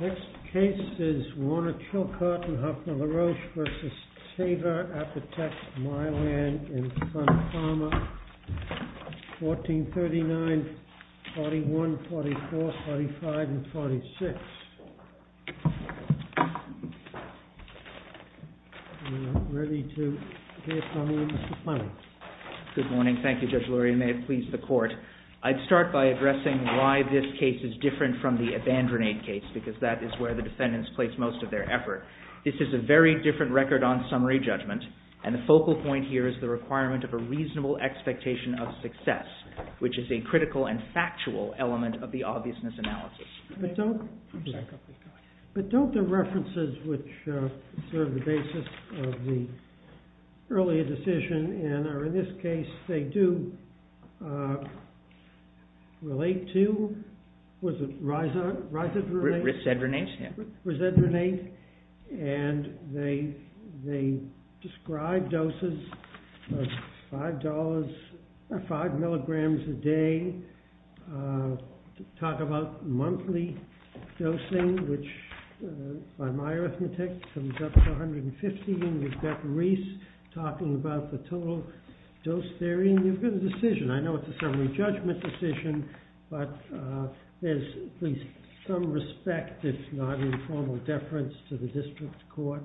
Next case is Warner Chilcott and Huffman LaRoche v. Teva Pharmaceuticals USA, Inc. This is a very different record on summary judgment. And the focal point here is the requirement of a reasonable expectation of success, which is a critical and factual element of the obviousness analysis. But don't the references which serve the basis of the earlier decision and are in this case they do relate to, was it Risadronate? Risadronate. Risadronate. And they describe doses of $5 or 5 mg a day, talk about monthly dosing, which by my arithmetic comes up to 150 mg a day, and you've got Ris talking about the total dose they're in. You've got a decision. I know it's a summary judgment decision, but there's at least some respect, if not informal deference, to the district court.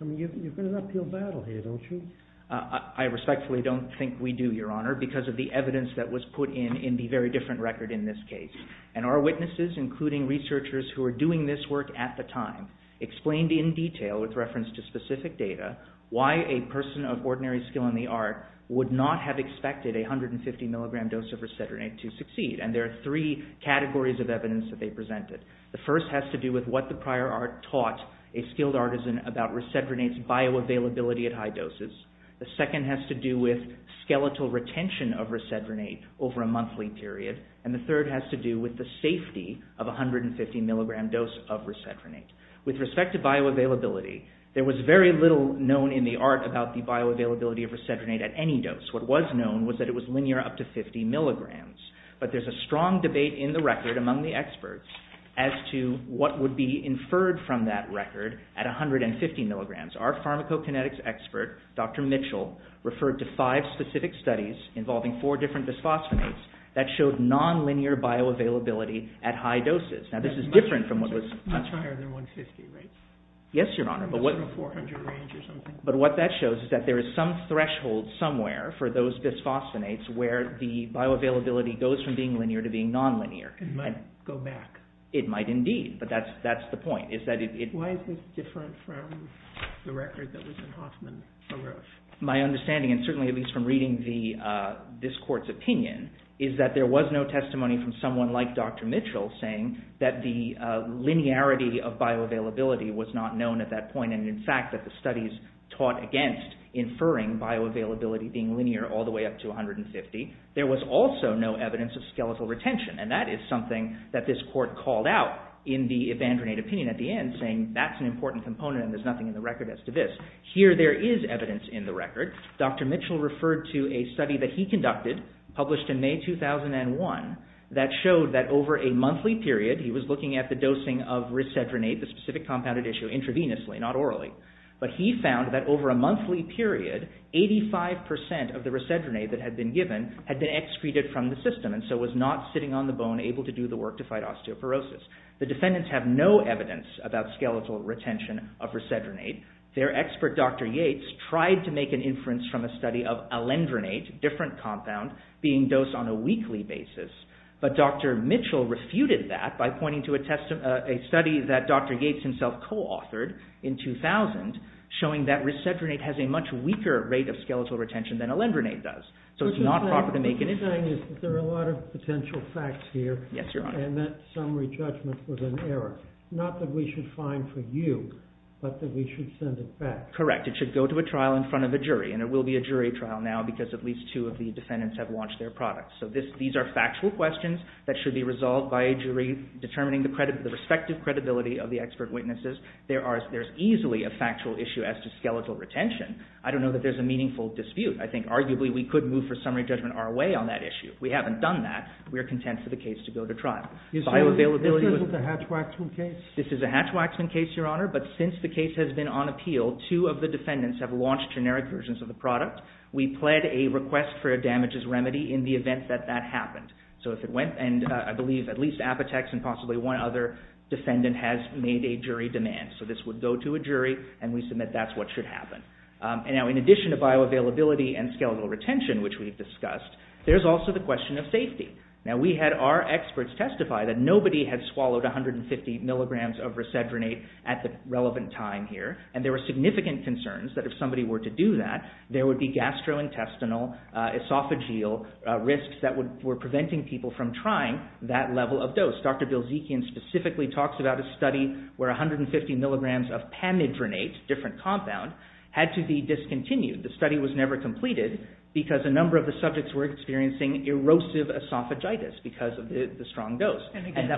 I mean, you've got an uphill battle here, don't you? I respectfully don't think we do, Your Honor, because of the evidence that was put in in the very different record in this case. And our witnesses, including researchers who were doing this work at the time, explained in detail, with reference to specific data, why a person of ordinary skill in the art would not have expected a 150 mg dose of Risadronate to succeed. And there are three categories of evidence that they presented. The first has to do with what the prior art taught a skilled artisan about Risadronate's bioavailability at high doses. The second has to do with skeletal retention of Risadronate over a monthly period. And the third has to do with the safety of 150 mg dose of Risadronate. With respect to bioavailability, there was very little known in the art about the bioavailability of Risadronate at any dose. What was known was that it was linear up to 50 mg. But there's a strong debate in the record among the experts as to what would be inferred from that record at 150 mg. Our pharmacokinetics expert, Dr. Mitchell, referred to five specific studies involving four different bisphosphonates that showed non-linear bioavailability at high doses. Now, this is different from what was... Much higher than 150, right? Yes, Your Honor. In the 0-400 range or something? But what that shows is that there is some threshold somewhere for those bisphosphonates where the bioavailability goes from being linear to being non-linear. It might go back. It might indeed. But that's the point. Why is this different from the record that was in Hoffman? My understanding, and certainly at least from reading this court's opinion, is that there was no testimony from someone like Dr. Mitchell saying that the linearity of bioavailability was not known at that point and, in fact, that the studies taught against inferring bioavailability being linear all the way up to 150. There was also no evidence of skeletal retention. And that is something that this court called out in the Evandronate opinion at the end, saying that's an important component and there's nothing in the record as to this. Here, there is evidence in the record. Dr. Mitchell referred to a study that he conducted, published in May 2001, that showed that over a monthly period, he was looking at the dosing of risedronate, the specific compounded issue, intravenously, not orally. But he found that over a monthly period, 85% of the risedronate that had been given had been excreted from the system and so was not sitting on the bone able to do the work to fight osteoporosis. The defendants have no evidence about skeletal retention of risedronate. Their expert, Dr. Yates, tried to make an inference from a study of alendronate, a different compound, being dosed on a weekly basis. But Dr. Mitchell refuted that by pointing to a study that Dr. Yates himself co-authored in 2000, showing that risedronate has a much weaker rate of skeletal retention than alendronate does. So it's not proper to make an inference. The good thing is that there are a lot of potential facts here and that summary judgment was an error. Not that we should find for you, but that we should send it back. Correct. It should go to a trial in front of a jury and it will be a jury trial now because at least two of the defendants have launched their products. So these are factual questions that should be resolved by a jury determining the respective credibility of the expert witnesses. There's easily a factual issue as to skeletal retention. I don't know that there's a meaningful dispute. I think arguably we could move for summary judgment our way on that issue. If we haven't done that, we're content for the case to go to trial. Is this a Hatch-Waxman case? This is a Hatch-Waxman case, Your Honor. But since the case has been on appeal, two of the defendants have launched generic versions of the product. We pled a request for a damages remedy in the event that that happened. So if it went, and I believe at least Apotex and possibly one other defendant has made a jury demand. So this would go to a jury and we submit that's what should happen. Now in addition to bioavailability and skeletal retention, which we've discussed, there's also the question of safety. Now we had our experts testify that nobody had swallowed 150 milligrams of Resedronate at the relevant time here, and there were significant concerns that if somebody were to do that, there would be gastrointestinal, esophageal risks that were preventing people from trying that level of dose. Dr. Bilzekian specifically talks about a study where 150 milligrams of Pamidronate, a different compound, had to be discontinued. The study was never completed because a number of the subjects were experiencing erosive esophagitis because of the strong dose. And again,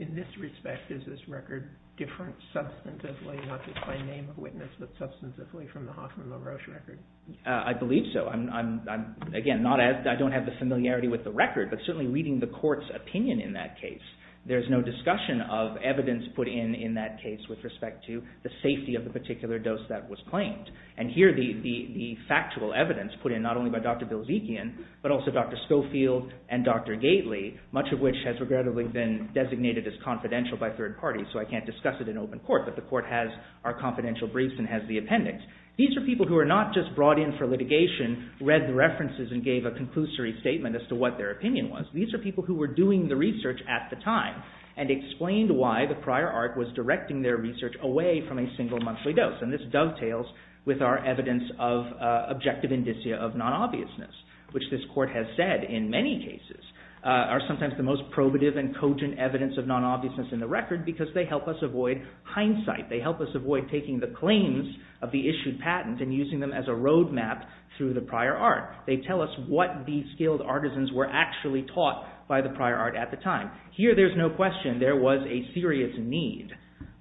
in this respect, is this record different substantively, not just by name of witness, but substantively from the Hoffman LaRoche record? I believe so. Again, I don't have the familiarity with the record, but certainly reading the court's opinion in that case, there's no discussion of evidence put in in that case with respect to the safety of the particular dose that was claimed. And here, the factual evidence put in not only by Dr. Bilzekian, but also Dr. Schofield and Dr. Gately, much of which has regrettably been designated as confidential by third parties, so I can't discuss it in open court, but the court has our confidential briefs and has the appendix. These are people who are not just brought in for litigation, read the references, and gave a conclusory statement as to what their opinion was. These are people who were doing the research at the time and explained why the prior art was directing their research away from a single monthly dose. And this dovetails with our evidence of objective indicia of non-obviousness, which this court has said in many cases are sometimes the most probative and cogent evidence of non-obviousness in the record because they help us avoid hindsight. They help us avoid taking the claims of the issued patent and using them as a road map through the prior art. They tell us what the skilled artisans were actually taught by the prior art at the time. Now, here there's no question there was a serious need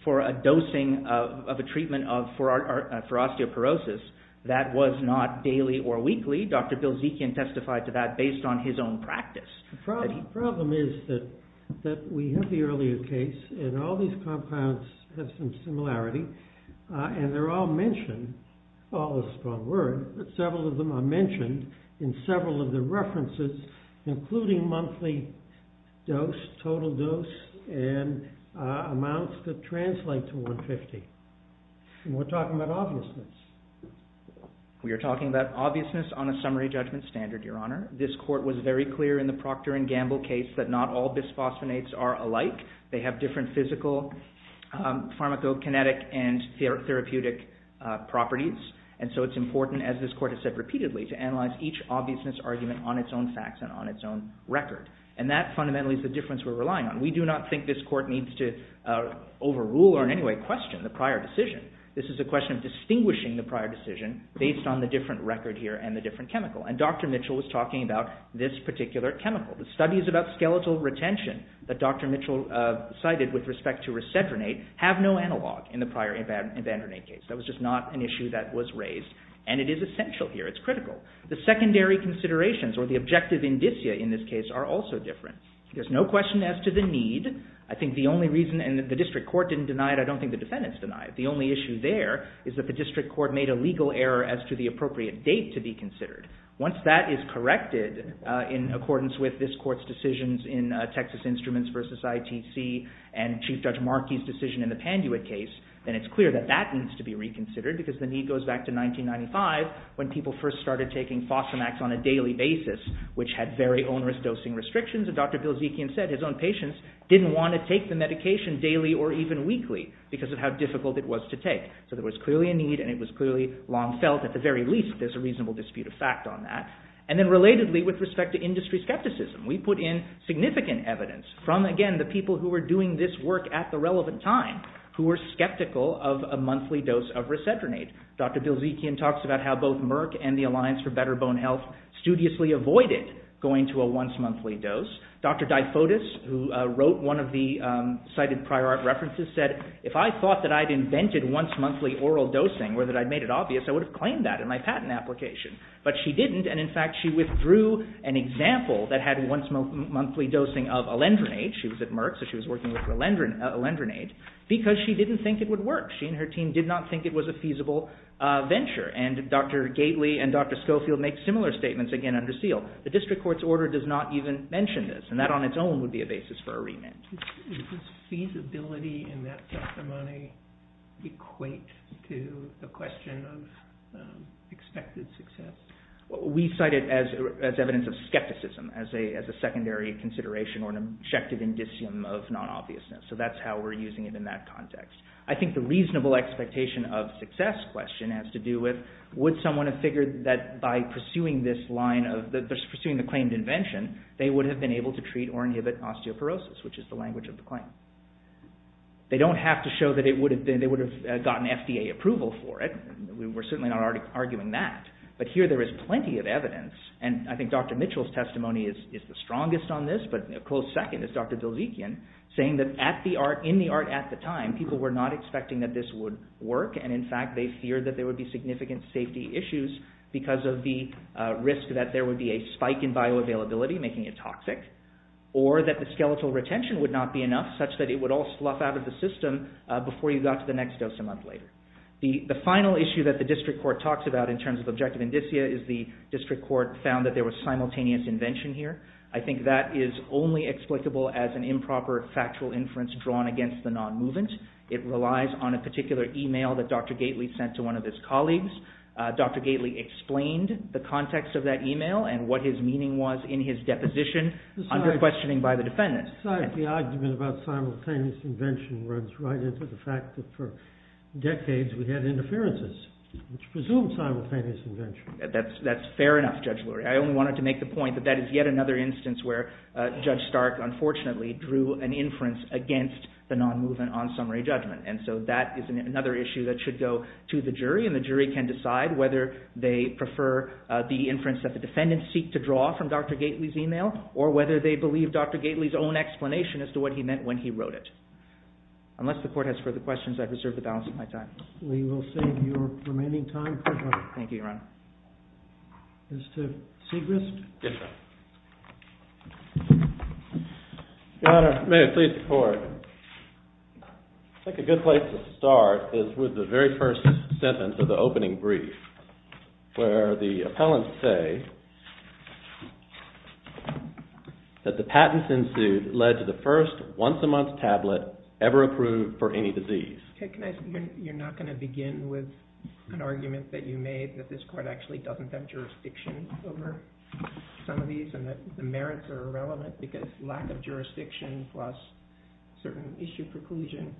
for a dosing of a treatment for osteoporosis that was not daily or weekly. Dr. Bill Zekian testified to that based on his own practice. The problem is that we have the earlier case and all these compounds have some similarity and they're all mentioned, all is a strong word, but several of them are mentioned in several of the references, including monthly dose, total dose, and amounts that translate to 150. And we're talking about obviousness. We are talking about obviousness on a summary judgment standard, Your Honor. This court was very clear in the Proctor and Gamble case that not all bisphosphonates are alike. They have different physical pharmacokinetic and therapeutic properties. And so it's important, as this court has said repeatedly, to analyze each obviousness argument on its own facts and on its own record. And that fundamentally is the difference we're relying on. We do not think this court needs to overrule or in any way question the prior decision. This is a question of distinguishing the prior decision based on the different record here and the different chemical. And Dr. Mitchell was talking about this particular chemical. The studies about skeletal retention that Dr. Mitchell cited with respect to resedronate have no analog in the prior Evandronate case. That was just not an issue that was raised. And it is essential here. It's critical. The secondary considerations or the objective indicia in this case are also different. There's no question as to the need. I think the only reason, and the district court didn't deny it, I don't think the defendants denied it. The only issue there is that the district court made a legal error as to the appropriate date to be considered. Once that is corrected in accordance with this court's decisions in Texas Instruments v. ITC and Chief Judge Markey's decision in the Panduit case, then it's clear that that needs to be reconsidered because the need goes back to 1995 when people first started taking Fosamax on a daily basis, which had very onerous dosing restrictions. And Dr. Bilzekian said his own patients didn't want to take the medication daily or even weekly because of how difficult it was to take. So there was clearly a need and it was clearly long felt at the very least. There's a reasonable dispute of fact on that. And then relatedly with respect to industry skepticism, we put in significant evidence from, again, the people who were doing this work at the relevant time who were skeptical of a monthly dose of resedronate. Dr. Bilzekian talks about how both Merck and the Alliance for Better Bone Health studiously avoided going to a once-monthly dose. Dr. DiFotis, who wrote one of the cited prior art references, said, if I thought that I'd invented once-monthly oral dosing or that I'd made it obvious, I would have claimed that in my patent application. But she didn't, and in fact she withdrew an example that had once-monthly dosing of alendronate because she didn't think it would work. She and her team did not think it was a feasible venture. And Dr. Gately and Dr. Schofield make similar statements, again, under seal. The district court's order does not even mention this, and that on its own would be a basis for arraignment. Does feasibility in that testimony equate to the question of expected success? We cite it as evidence of skepticism, as a secondary consideration or an objective indicium of non-obviousness. So that's how we're using it in that context. I think the reasonable expectation of success question has to do with, would someone have figured that by pursuing this line of, pursuing the claimed invention, they would have been able to treat or inhibit osteoporosis, which is the language of the claim. They don't have to show that they would have gotten FDA approval for it. We're certainly not arguing that. But here there is plenty of evidence, and I think Dr. Mitchell's testimony is the strongest on this, but a close second is Dr. Dilzekian, saying that in the art at the time, people were not expecting that this would work, and in fact they feared that there would be significant safety issues because of the risk that there would be a spike in bioavailability, making it toxic, or that the skeletal retention would not be enough such that it would all slough out of the system before you got to the next dose a month later. The final issue that the district court talks about in terms of objective indicia is the district court found that there was simultaneous invention here. I think that is only explicable as an improper factual inference drawn against the non-movement. It relies on a particular email that Dr. Gately sent to one of his colleagues. Dr. Gately explained the context of that email and what his meaning was in his deposition under questioning by the defendants. The argument about simultaneous invention runs right into the fact that for decades we had interferences, which presume simultaneous invention. That's fair enough, Judge Lurie. I only wanted to make the point that that is yet another instance where Judge Stark unfortunately drew an inference against the non-movement on summary judgment. And so that is another issue that should go to the jury, and the jury can decide whether they prefer the inference that the defendants seek to draw from Dr. Gately's email or whether they believe Dr. Gately's own explanation as to what he meant when he wrote it. Unless the court has further questions, I've reserved the balance of my time. We will save your remaining time. Thank you, Your Honor. Mr. Siegrist? Yes, Your Honor. Your Honor, may I please report? I think a good place to start is with the very first sentence of the opening brief, where the appellants say that the patents ensued led to the first once-a-month tablet ever approved for any disease. You're not going to begin with an argument that you made that this court actually doesn't have jurisdiction over some of these and that the merits are irrelevant because lack of jurisdiction plus certain issue preclusion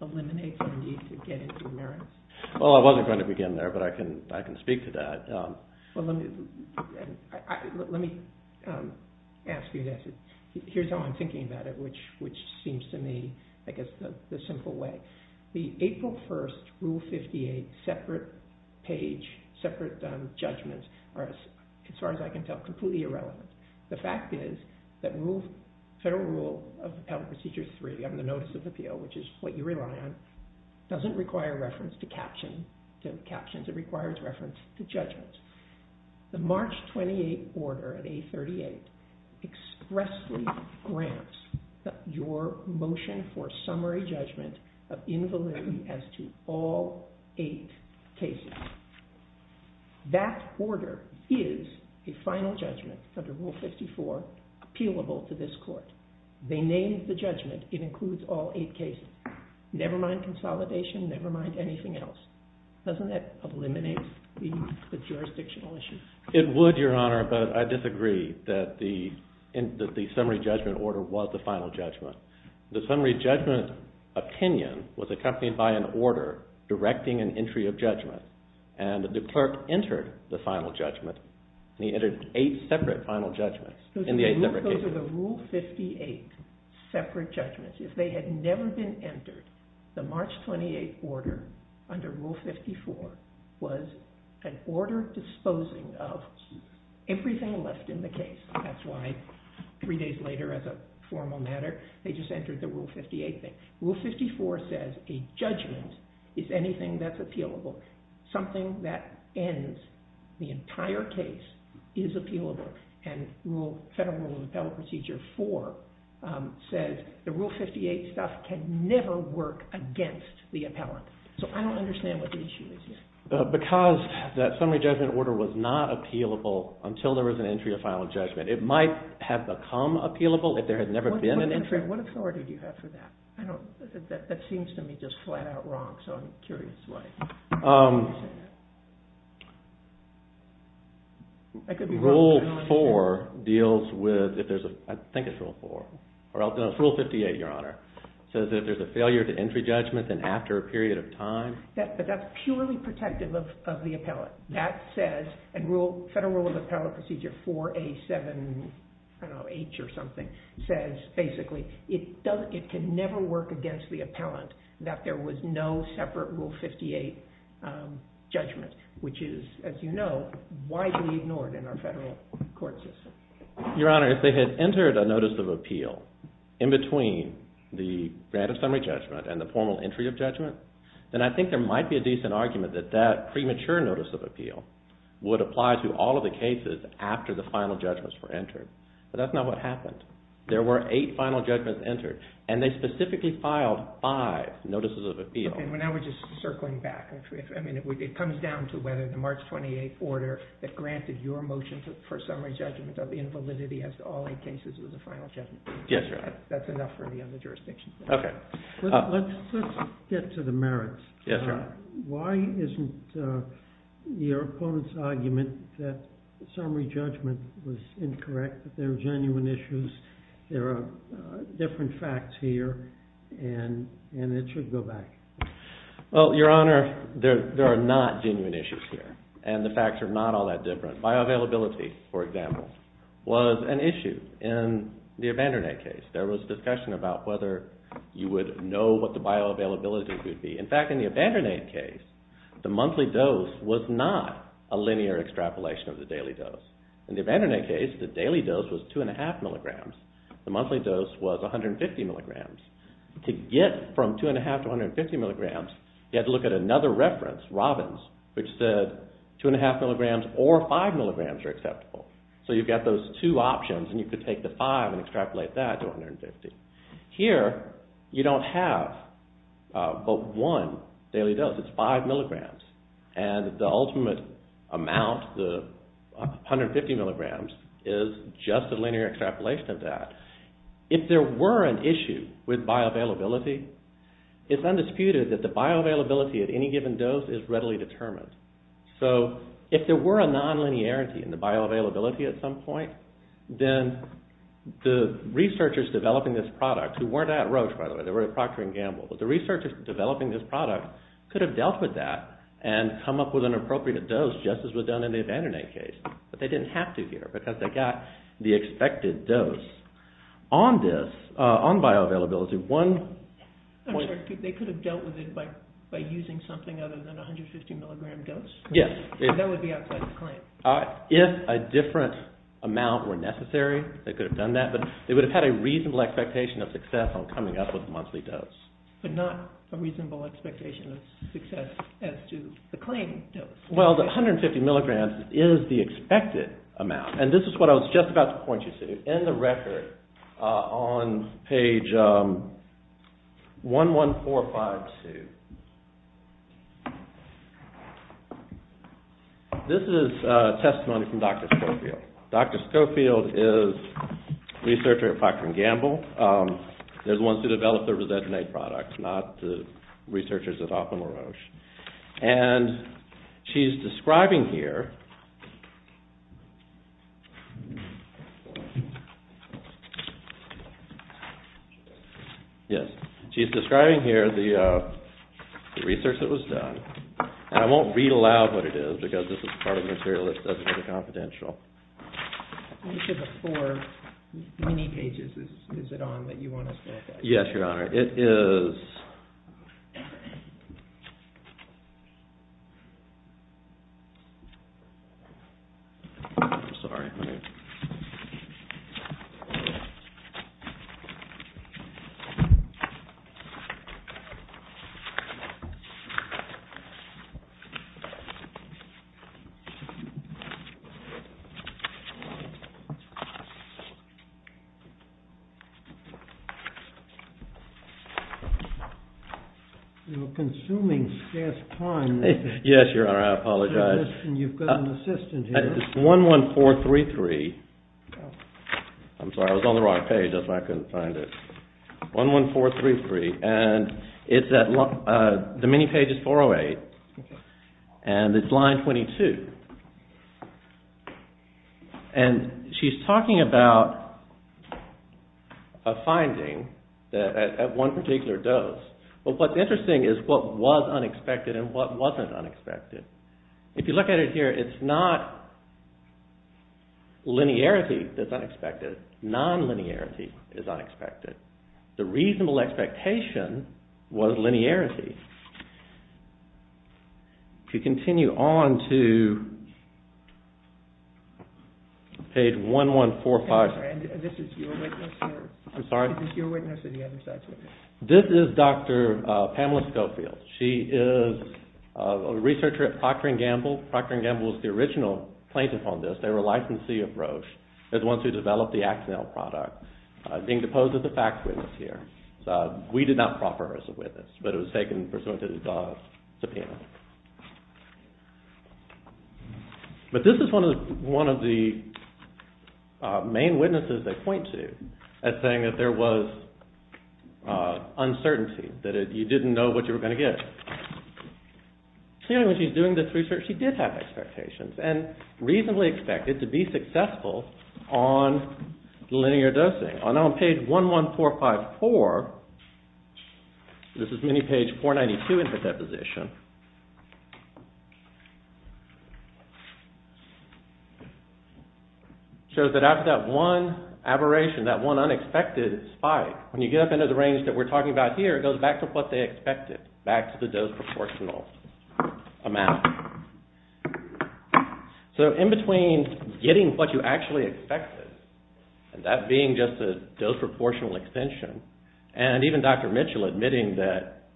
eliminates the need to get into merits? Well, I wasn't going to begin there, but I can speak to that. Well, let me ask you this. Here's how I'm thinking about it, which seems to me, I guess, the simple way. The April 1st Rule 58 separate page, separate judgments are, as far as I can tell, completely irrelevant. The fact is that Federal Rule of Appellant Procedure 3 on the Notice of Appeal, which is what you rely on, doesn't require reference to captions. It requires reference to judgments. The March 28 order at 838 expressly grants your motion for summary judgment of invalidity as to all eight cases. That order is a final judgment under Rule 54 appealable to this court. They named the judgment. It includes all eight cases, never mind consolidation, never mind anything else. Doesn't that eliminate the jurisdictional issue? It would, Your Honor, but I disagree that the summary judgment order was the final judgment. The summary judgment opinion was accompanied by an order directing an entry of judgment, and the clerk entered the final judgment, and he entered eight separate final judgments in the eight separate cases. Those are the Rule 58 separate judgments. If they had never been entered, the March 28 order under Rule 54 was an order disposing of everything left in the case. That's why three days later, as a formal matter, they just entered the Rule 58 thing. Rule 54 says a judgment is anything that's appealable. Something that ends the entire case is appealable. Federal Rule of Appellant Procedure 4 says the Rule 58 stuff can never work against the appellant, so I don't understand what the issue is here. Because that summary judgment order was not appealable until there was an entry of final judgment, it might have become appealable if there had never been an entry. What authority do you have for that? That seems to me just flat out wrong, so I'm curious why you say that. Rule 4 deals with, I think it's Rule 4, or no, it's Rule 58, Your Honor. It says that if there's a failure to entry judgment, then after a period of time... But that's purely protective of the appellant. That says, and Federal Rule of Appellant Procedure 4A7H or something, says basically it can never work against the appellant that there was no separate Rule 58 judgment, which is, as you know, widely ignored in our federal court system. Your Honor, if they had entered a notice of appeal in between the grant of summary judgment and the formal entry of judgment, then I think there might be a decent argument that that premature notice of appeal would apply to all of the cases after the final judgments were entered. But that's not what happened. There were eight final judgments entered, and they specifically filed five notices of appeal. And now we're just circling back. I mean, it comes down to whether the March 28th order that granted your motion for summary judgment of invalidity as to all eight cases was a final judgment. Yes, Your Honor. That's enough for the other jurisdictions. Okay. Let's get to the merits. Yes, Your Honor. Why isn't your opponent's argument that summary judgment was incorrect, that there are genuine issues, there are different facts here, and it should go back? Well, Your Honor, there are not genuine issues here, and the facts are not all that different. Bioavailability, for example, was an issue in the abandonnate case. There was discussion about whether you would know what the bioavailability would be. In fact, in the abandonnate case, the monthly dose was not a linear extrapolation of the daily dose. In the abandonnate case, the daily dose was 2.5 milligrams. The monthly dose was 150 milligrams. To get from 2.5 to 150 milligrams, you had to look at another reference, Robbins, which said 2.5 milligrams or 5 milligrams are acceptable. So you've got those two options, and you could take the 5 and extrapolate that to 150. Here, you don't have both 1 daily dose. It's 5 milligrams. And the ultimate amount, the 150 milligrams, is just a linear extrapolation of that. If there were an issue with bioavailability, it's undisputed that the bioavailability at any given dose is readily determined. So if there were a nonlinearity in the bioavailability at some point, then the researchers developing this product, who weren't at Roche, by the way. They were at Procter & Gamble. But the researchers developing this product could have dealt with that and come up with an appropriate dose, just as was done in the abandonnate case. But they didn't have to here because they got the expected dose. On this, on bioavailability, one point- They could have dealt with it by using something other than a 150 milligram dose? Yes. That would be outside the claim. If a different amount were necessary, they could have done that. But they would have had a reasonable expectation of success on coming up with a monthly dose. But not a reasonable expectation of success as to the claim dose. Well, the 150 milligrams is the expected amount. And this is what I was just about to point you to. In the record on page 11452. This is testimony from Dr. Schofield. Dr. Schofield is a researcher at Procter & Gamble. They're the ones who developed the Resegen-A products, not the researchers at Hoffman and Roche. And she's describing here- Yes. She's describing here the research that was done. And I won't read aloud what it is because this is part of the material that doesn't get a confidential. Which of the four mini-pages is it on that you want us to look at? Yes, Your Honor. All right. It is- I'm sorry. You're consuming scarce time. Yes, Your Honor. I apologize. And you've got an assistant here. It's 11433. I'm sorry. I was on the wrong page. That's why I couldn't find it. 11433. And it's at- the mini-page is 408. And it's line 22. And she's talking about a finding at one particular dose. But what's interesting is what was unexpected and what wasn't unexpected. If you look at it here, it's not linearity that's unexpected. Non-linearity is unexpected. The reasonable expectation was linearity. If you continue on to page 1145- And this is your witness here? I'm sorry? Is this your witness or the other side's witness? This is Dr. Pamela Schofield. She is a researcher at Procter & Gamble. Procter & Gamble was the original plaintiff on this. They were a licensee of Roche. They're the ones who developed the Axanil product. Being deposed as a fact witness here. We did not proffer her as a witness. But it was taken pursuant to the subpoena. But this is one of the main witnesses they point to. As saying that there was uncertainty. That you didn't know what you were going to get. Clearly when she's doing this research she did have expectations. And reasonably expected to be successful on linear dosing. And on page 11454, this is mini page 492 in her deposition. Shows that after that one aberration, that one unexpected spike. When you get up into the range that we're talking about here. It goes back to what they expected. Back to the dose proportional amount. So in between getting what you actually expected. And that being just a dose proportional extension. And even Dr. Mitchell admitting that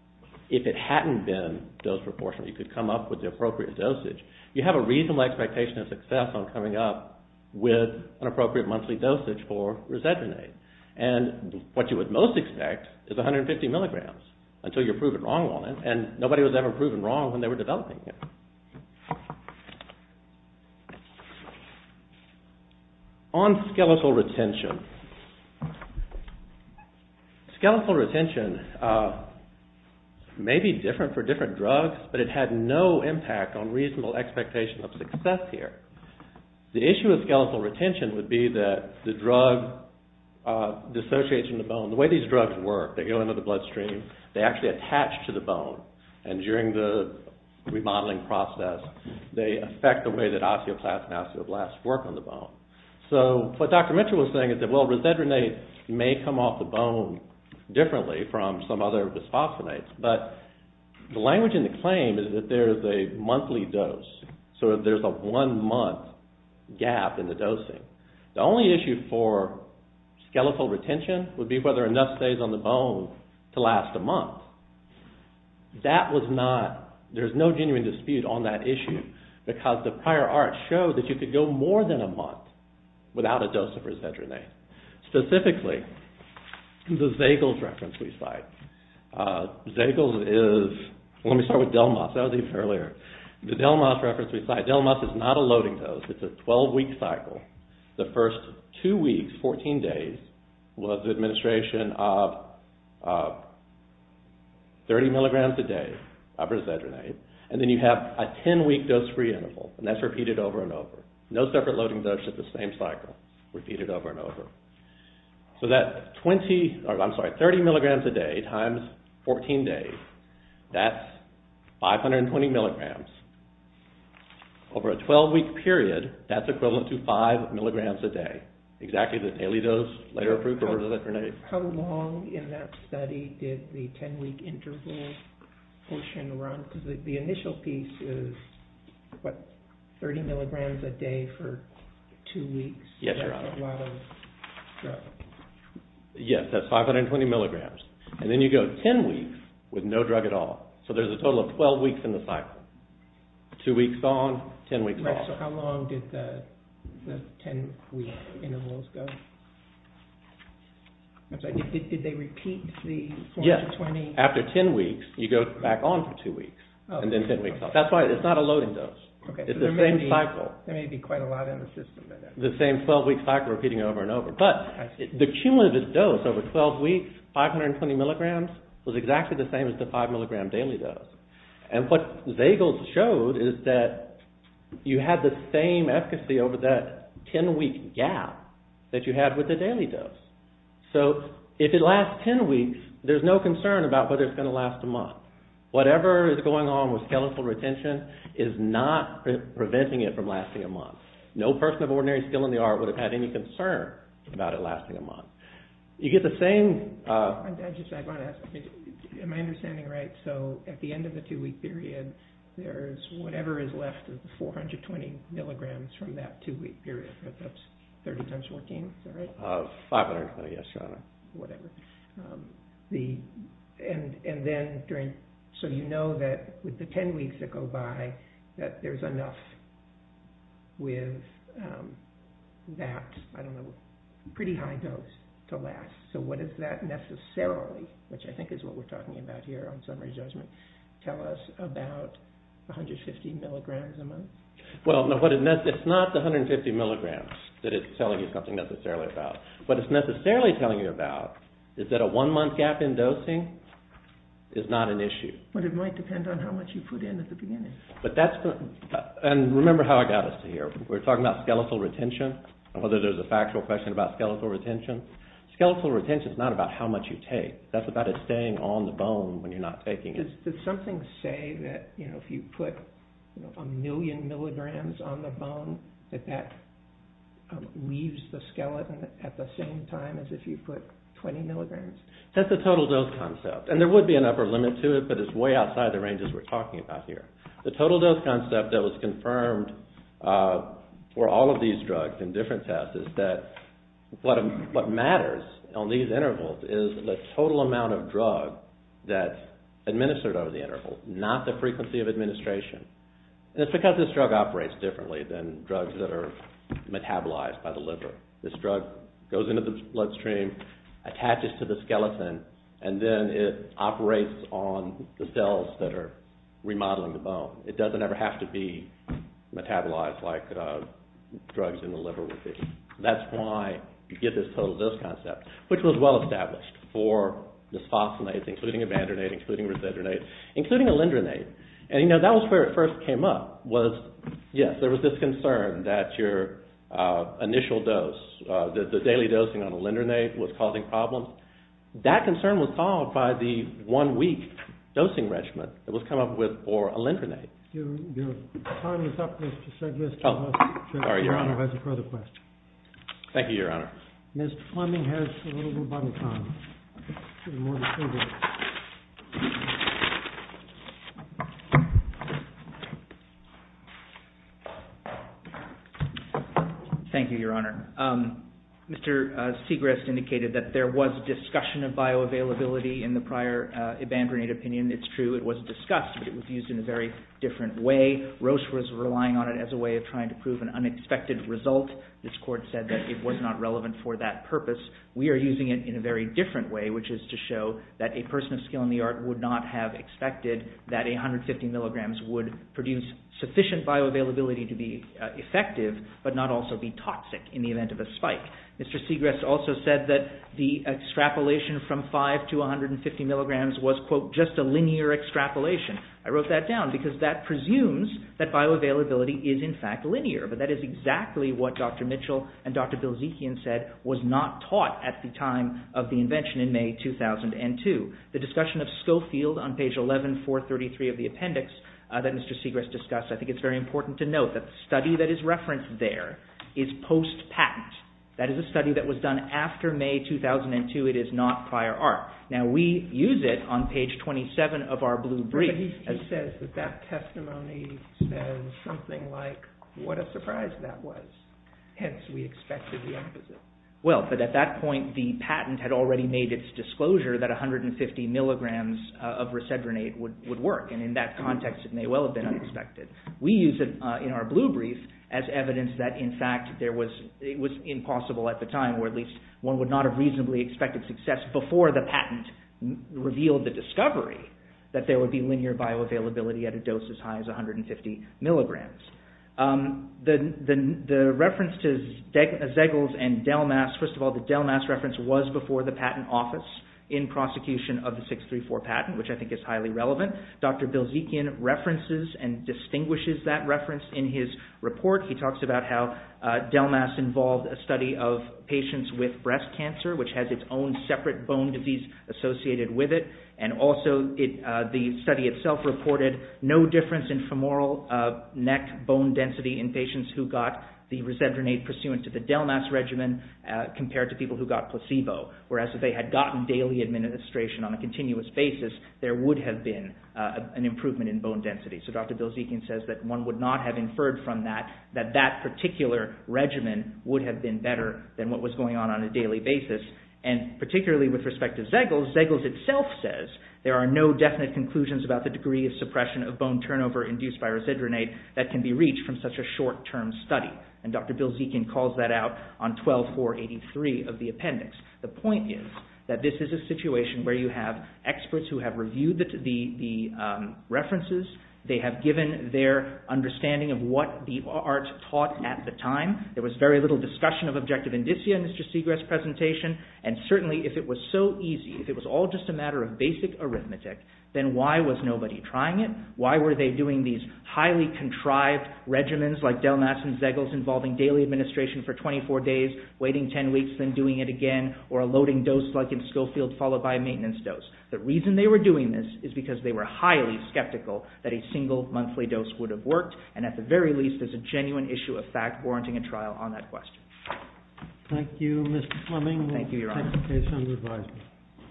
if it hadn't been dose proportional. You could come up with the appropriate dosage. You have a reasonable expectation of success on coming up. With an appropriate monthly dosage for Resedronate. And what you would most expect is 150 milligrams. Until you're proven wrong on it. And nobody was ever proven wrong when they were developing it. On skeletal retention. Skeletal retention may be different for different drugs. But it had no impact on reasonable expectation of success here. The issue of skeletal retention would be that the drug dissociates from the bone. The way these drugs work. They go into the bloodstream. They actually attach to the bone. And during the remodeling process. They affect the way that osteoplasts and osteoblasts work on the bone. So what Dr. Mitchell was saying is that Resedronate may come off the bone. Differently from some other bisphosphonates. But the language in the claim is that there is a monthly dose. So there is a one month gap in the dosing. The only issue for skeletal retention. Would be whether enough stays on the bone to last a month. That was not. There is no genuine dispute on that issue. Because the prior art showed that you could go more than a month. Without a dose of Resedronate. Specifically, the Zagel's reference we cite. Zagel's is. Let me start with Delmas. That was even earlier. The Delmas reference we cite. Delmas is not a loading dose. It's a 12 week cycle. The first two weeks, 14 days. Was administration of 30 mg a day of Resedronate. And then you have a 10 week dose free interval. And that's repeated over and over. No separate loading dose. It's the same cycle. Repeated over and over. So that 30 mg a day times 14 days. That's 520 mg. Over a 12 week period. That's equivalent to 5 mg a day. Exactly. The daily dose later approved for Resedronate. How long in that study did the 10 week interval portion run? Because the initial piece is, what, 30 mg a day for two weeks. Yes, Your Honor. That's a lot of drug. Yes, that's 520 mg. And then you go 10 weeks with no drug at all. So there's a total of 12 weeks in the cycle. Two weeks on, 10 weeks off. So how long did the 10 week intervals go? Did they repeat the 14 to 20? Yes. After 10 weeks, you go back on for two weeks. And then 10 weeks off. That's why it's not a loading dose. It's the same cycle. There may be quite a lot in the system. The same 12 week cycle repeating over and over. But the cumulative dose over 12 weeks, 520 mg, was exactly the same as the 5 mg daily dose. And what Zagel showed is that you had the same efficacy over that 10 week gap that you had with the daily dose. So if it lasts 10 weeks, there's no concern about whether it's going to last a month. Whatever is going on with skeletal retention is not preventing it from lasting a month. No person of ordinary skill in the art would have had any concern about it lasting a month. You get the same... I just want to ask. Am I understanding right? So at the end of the two week period, there's whatever is left of the 420 mg from that two week period. That's 30 times 14, is that right? 520, yes, Your Honor. Whatever. And then during... So you know that with the 10 weeks that go by, that there's enough with that, I don't know, pretty high dose to last. So what is that necessarily, which I think is what we're looking for in the judgment, tell us about 150 mg a month? Well, it's not the 150 mg that it's telling you something necessarily about. What it's necessarily telling you about is that a one month gap in dosing is not an issue. But it might depend on how much you put in at the beginning. But that's... And remember how I got us to here. We're talking about skeletal retention and whether there's a factual question about skeletal retention. Skeletal retention is not about how much you take. That's about it staying on the bone when you're not taking it. Does something say that if you put a million milligrams on the bone that that leaves the skeleton at the same time as if you put 20 milligrams? That's a total dose concept. And there would be an upper limit to it, but it's way outside the ranges we're talking about here. The total dose concept that was confirmed for all of these drugs in different tests is that what matters on these is the total amount of drug that's administered over the interval, not the frequency of administration. And it's because this drug operates differently than drugs that are metabolized by the liver. This drug goes into the bloodstream, attaches to the skeleton, and then it operates on the cells that are remodeling the bone. It doesn't ever have to be metabolized like drugs in the liver would be. That's why you get this total dose concept, which was well-established for misphosphonates, including evandronate, including resendronate, including alendronate. And that was where it first came up was, yes, there was this concern that your initial dose, the daily dosing on alendronate was causing problems. That concern was solved by the one-week dosing regimen that was come up with for alendronate. Your time is up, Mr. Sedgwick. Your Honor, I have a further question. Thank you, Your Honor. Mr. Fleming has a little bit of body time. Thank you, Your Honor. Mr. Segrist indicated that there was discussion of bioavailability in the prior evandronate opinion. It's true it was discussed, but it was used in a very different way. Roche was relying on it as a way of trying to prove an unexpected result. This court said that it was not relevant for that purpose. We are using it in a very different way, which is to show that a person of skill in the art would not have expected that 150 milligrams would produce sufficient bioavailability to be effective, but not also be toxic in the event of a spike. Mr. Segrist also said that the extrapolation from 5 to 150 milligrams was, quote, just a linear extrapolation. I wrote that down because that presumes that bioavailability is, in fact, linear. But that is exactly what Dr. Mitchell and Dr. Bilzekian said was not taught at the time of the invention in May 2002. The discussion of Schofield on page 11433 of the appendix that Mr. Segrist discussed, I think it's very important to note that the study that is referenced there is post-patent. That is a study that was done after May 2002. It is not prior art. Now, we use it on page 27 of our blue brief. But he says that that testimony says something like, what a surprise that was. Hence, we expected the opposite. Well, but at that point, the patent had already made its disclosure that 150 milligrams of resedronate would work. And in that context, it may well have been unexpected. We use it in our blue brief as evidence that, in fact, it was impossible at the time, or at least one would not have reasonably expected success before the patent revealed the discovery that there would be linear bioavailability at a dose as high as 150 milligrams. The reference to Zegels and Delmas, first of all, the Delmas reference was before the patent office in prosecution of the 634 patent, which I think is highly relevant. Dr. Bilzekian references and distinguishes that reference in his report. He talks about how Delmas involved a study of patients with breast cancer, which has its own separate bone disease associated with it. And also, the study itself reported no difference in femoral neck bone density in patients who got the resedronate pursuant to the Delmas regimen compared to people who got placebo, whereas if they had gotten daily administration on a continuous basis, there would have been an improvement in bone density. So Dr. Bilzekian says that one would not have inferred from that that that particular regimen would And particularly with respect to Zegels, Zegels itself says there are no definite conclusions about the degree of suppression of bone turnover induced by resedronate that can be reached from such a short-term study. And Dr. Bilzekian calls that out on 12483 of the appendix. The point is that this is a situation where you have experts who have reviewed the references. They have given their understanding of what the art taught at the time. There was very little discussion of objective indicia in Mr. Segrest's presentation. And certainly, if it was so easy, if it was all just a matter of basic arithmetic, then why was nobody trying it? Why were they doing these highly contrived regimens like Delmas and Zegels involving daily administration for 24 days, waiting 10 weeks, then doing it again, or a loading dose like in Schofield followed by a maintenance dose? The reason they were doing this is because they were highly skeptical that a single monthly dose would have worked. And at the very least, there's a genuine issue of fact warranting a trial on that question. Thank you, Mr. Fleming. Thank you, Your Honor.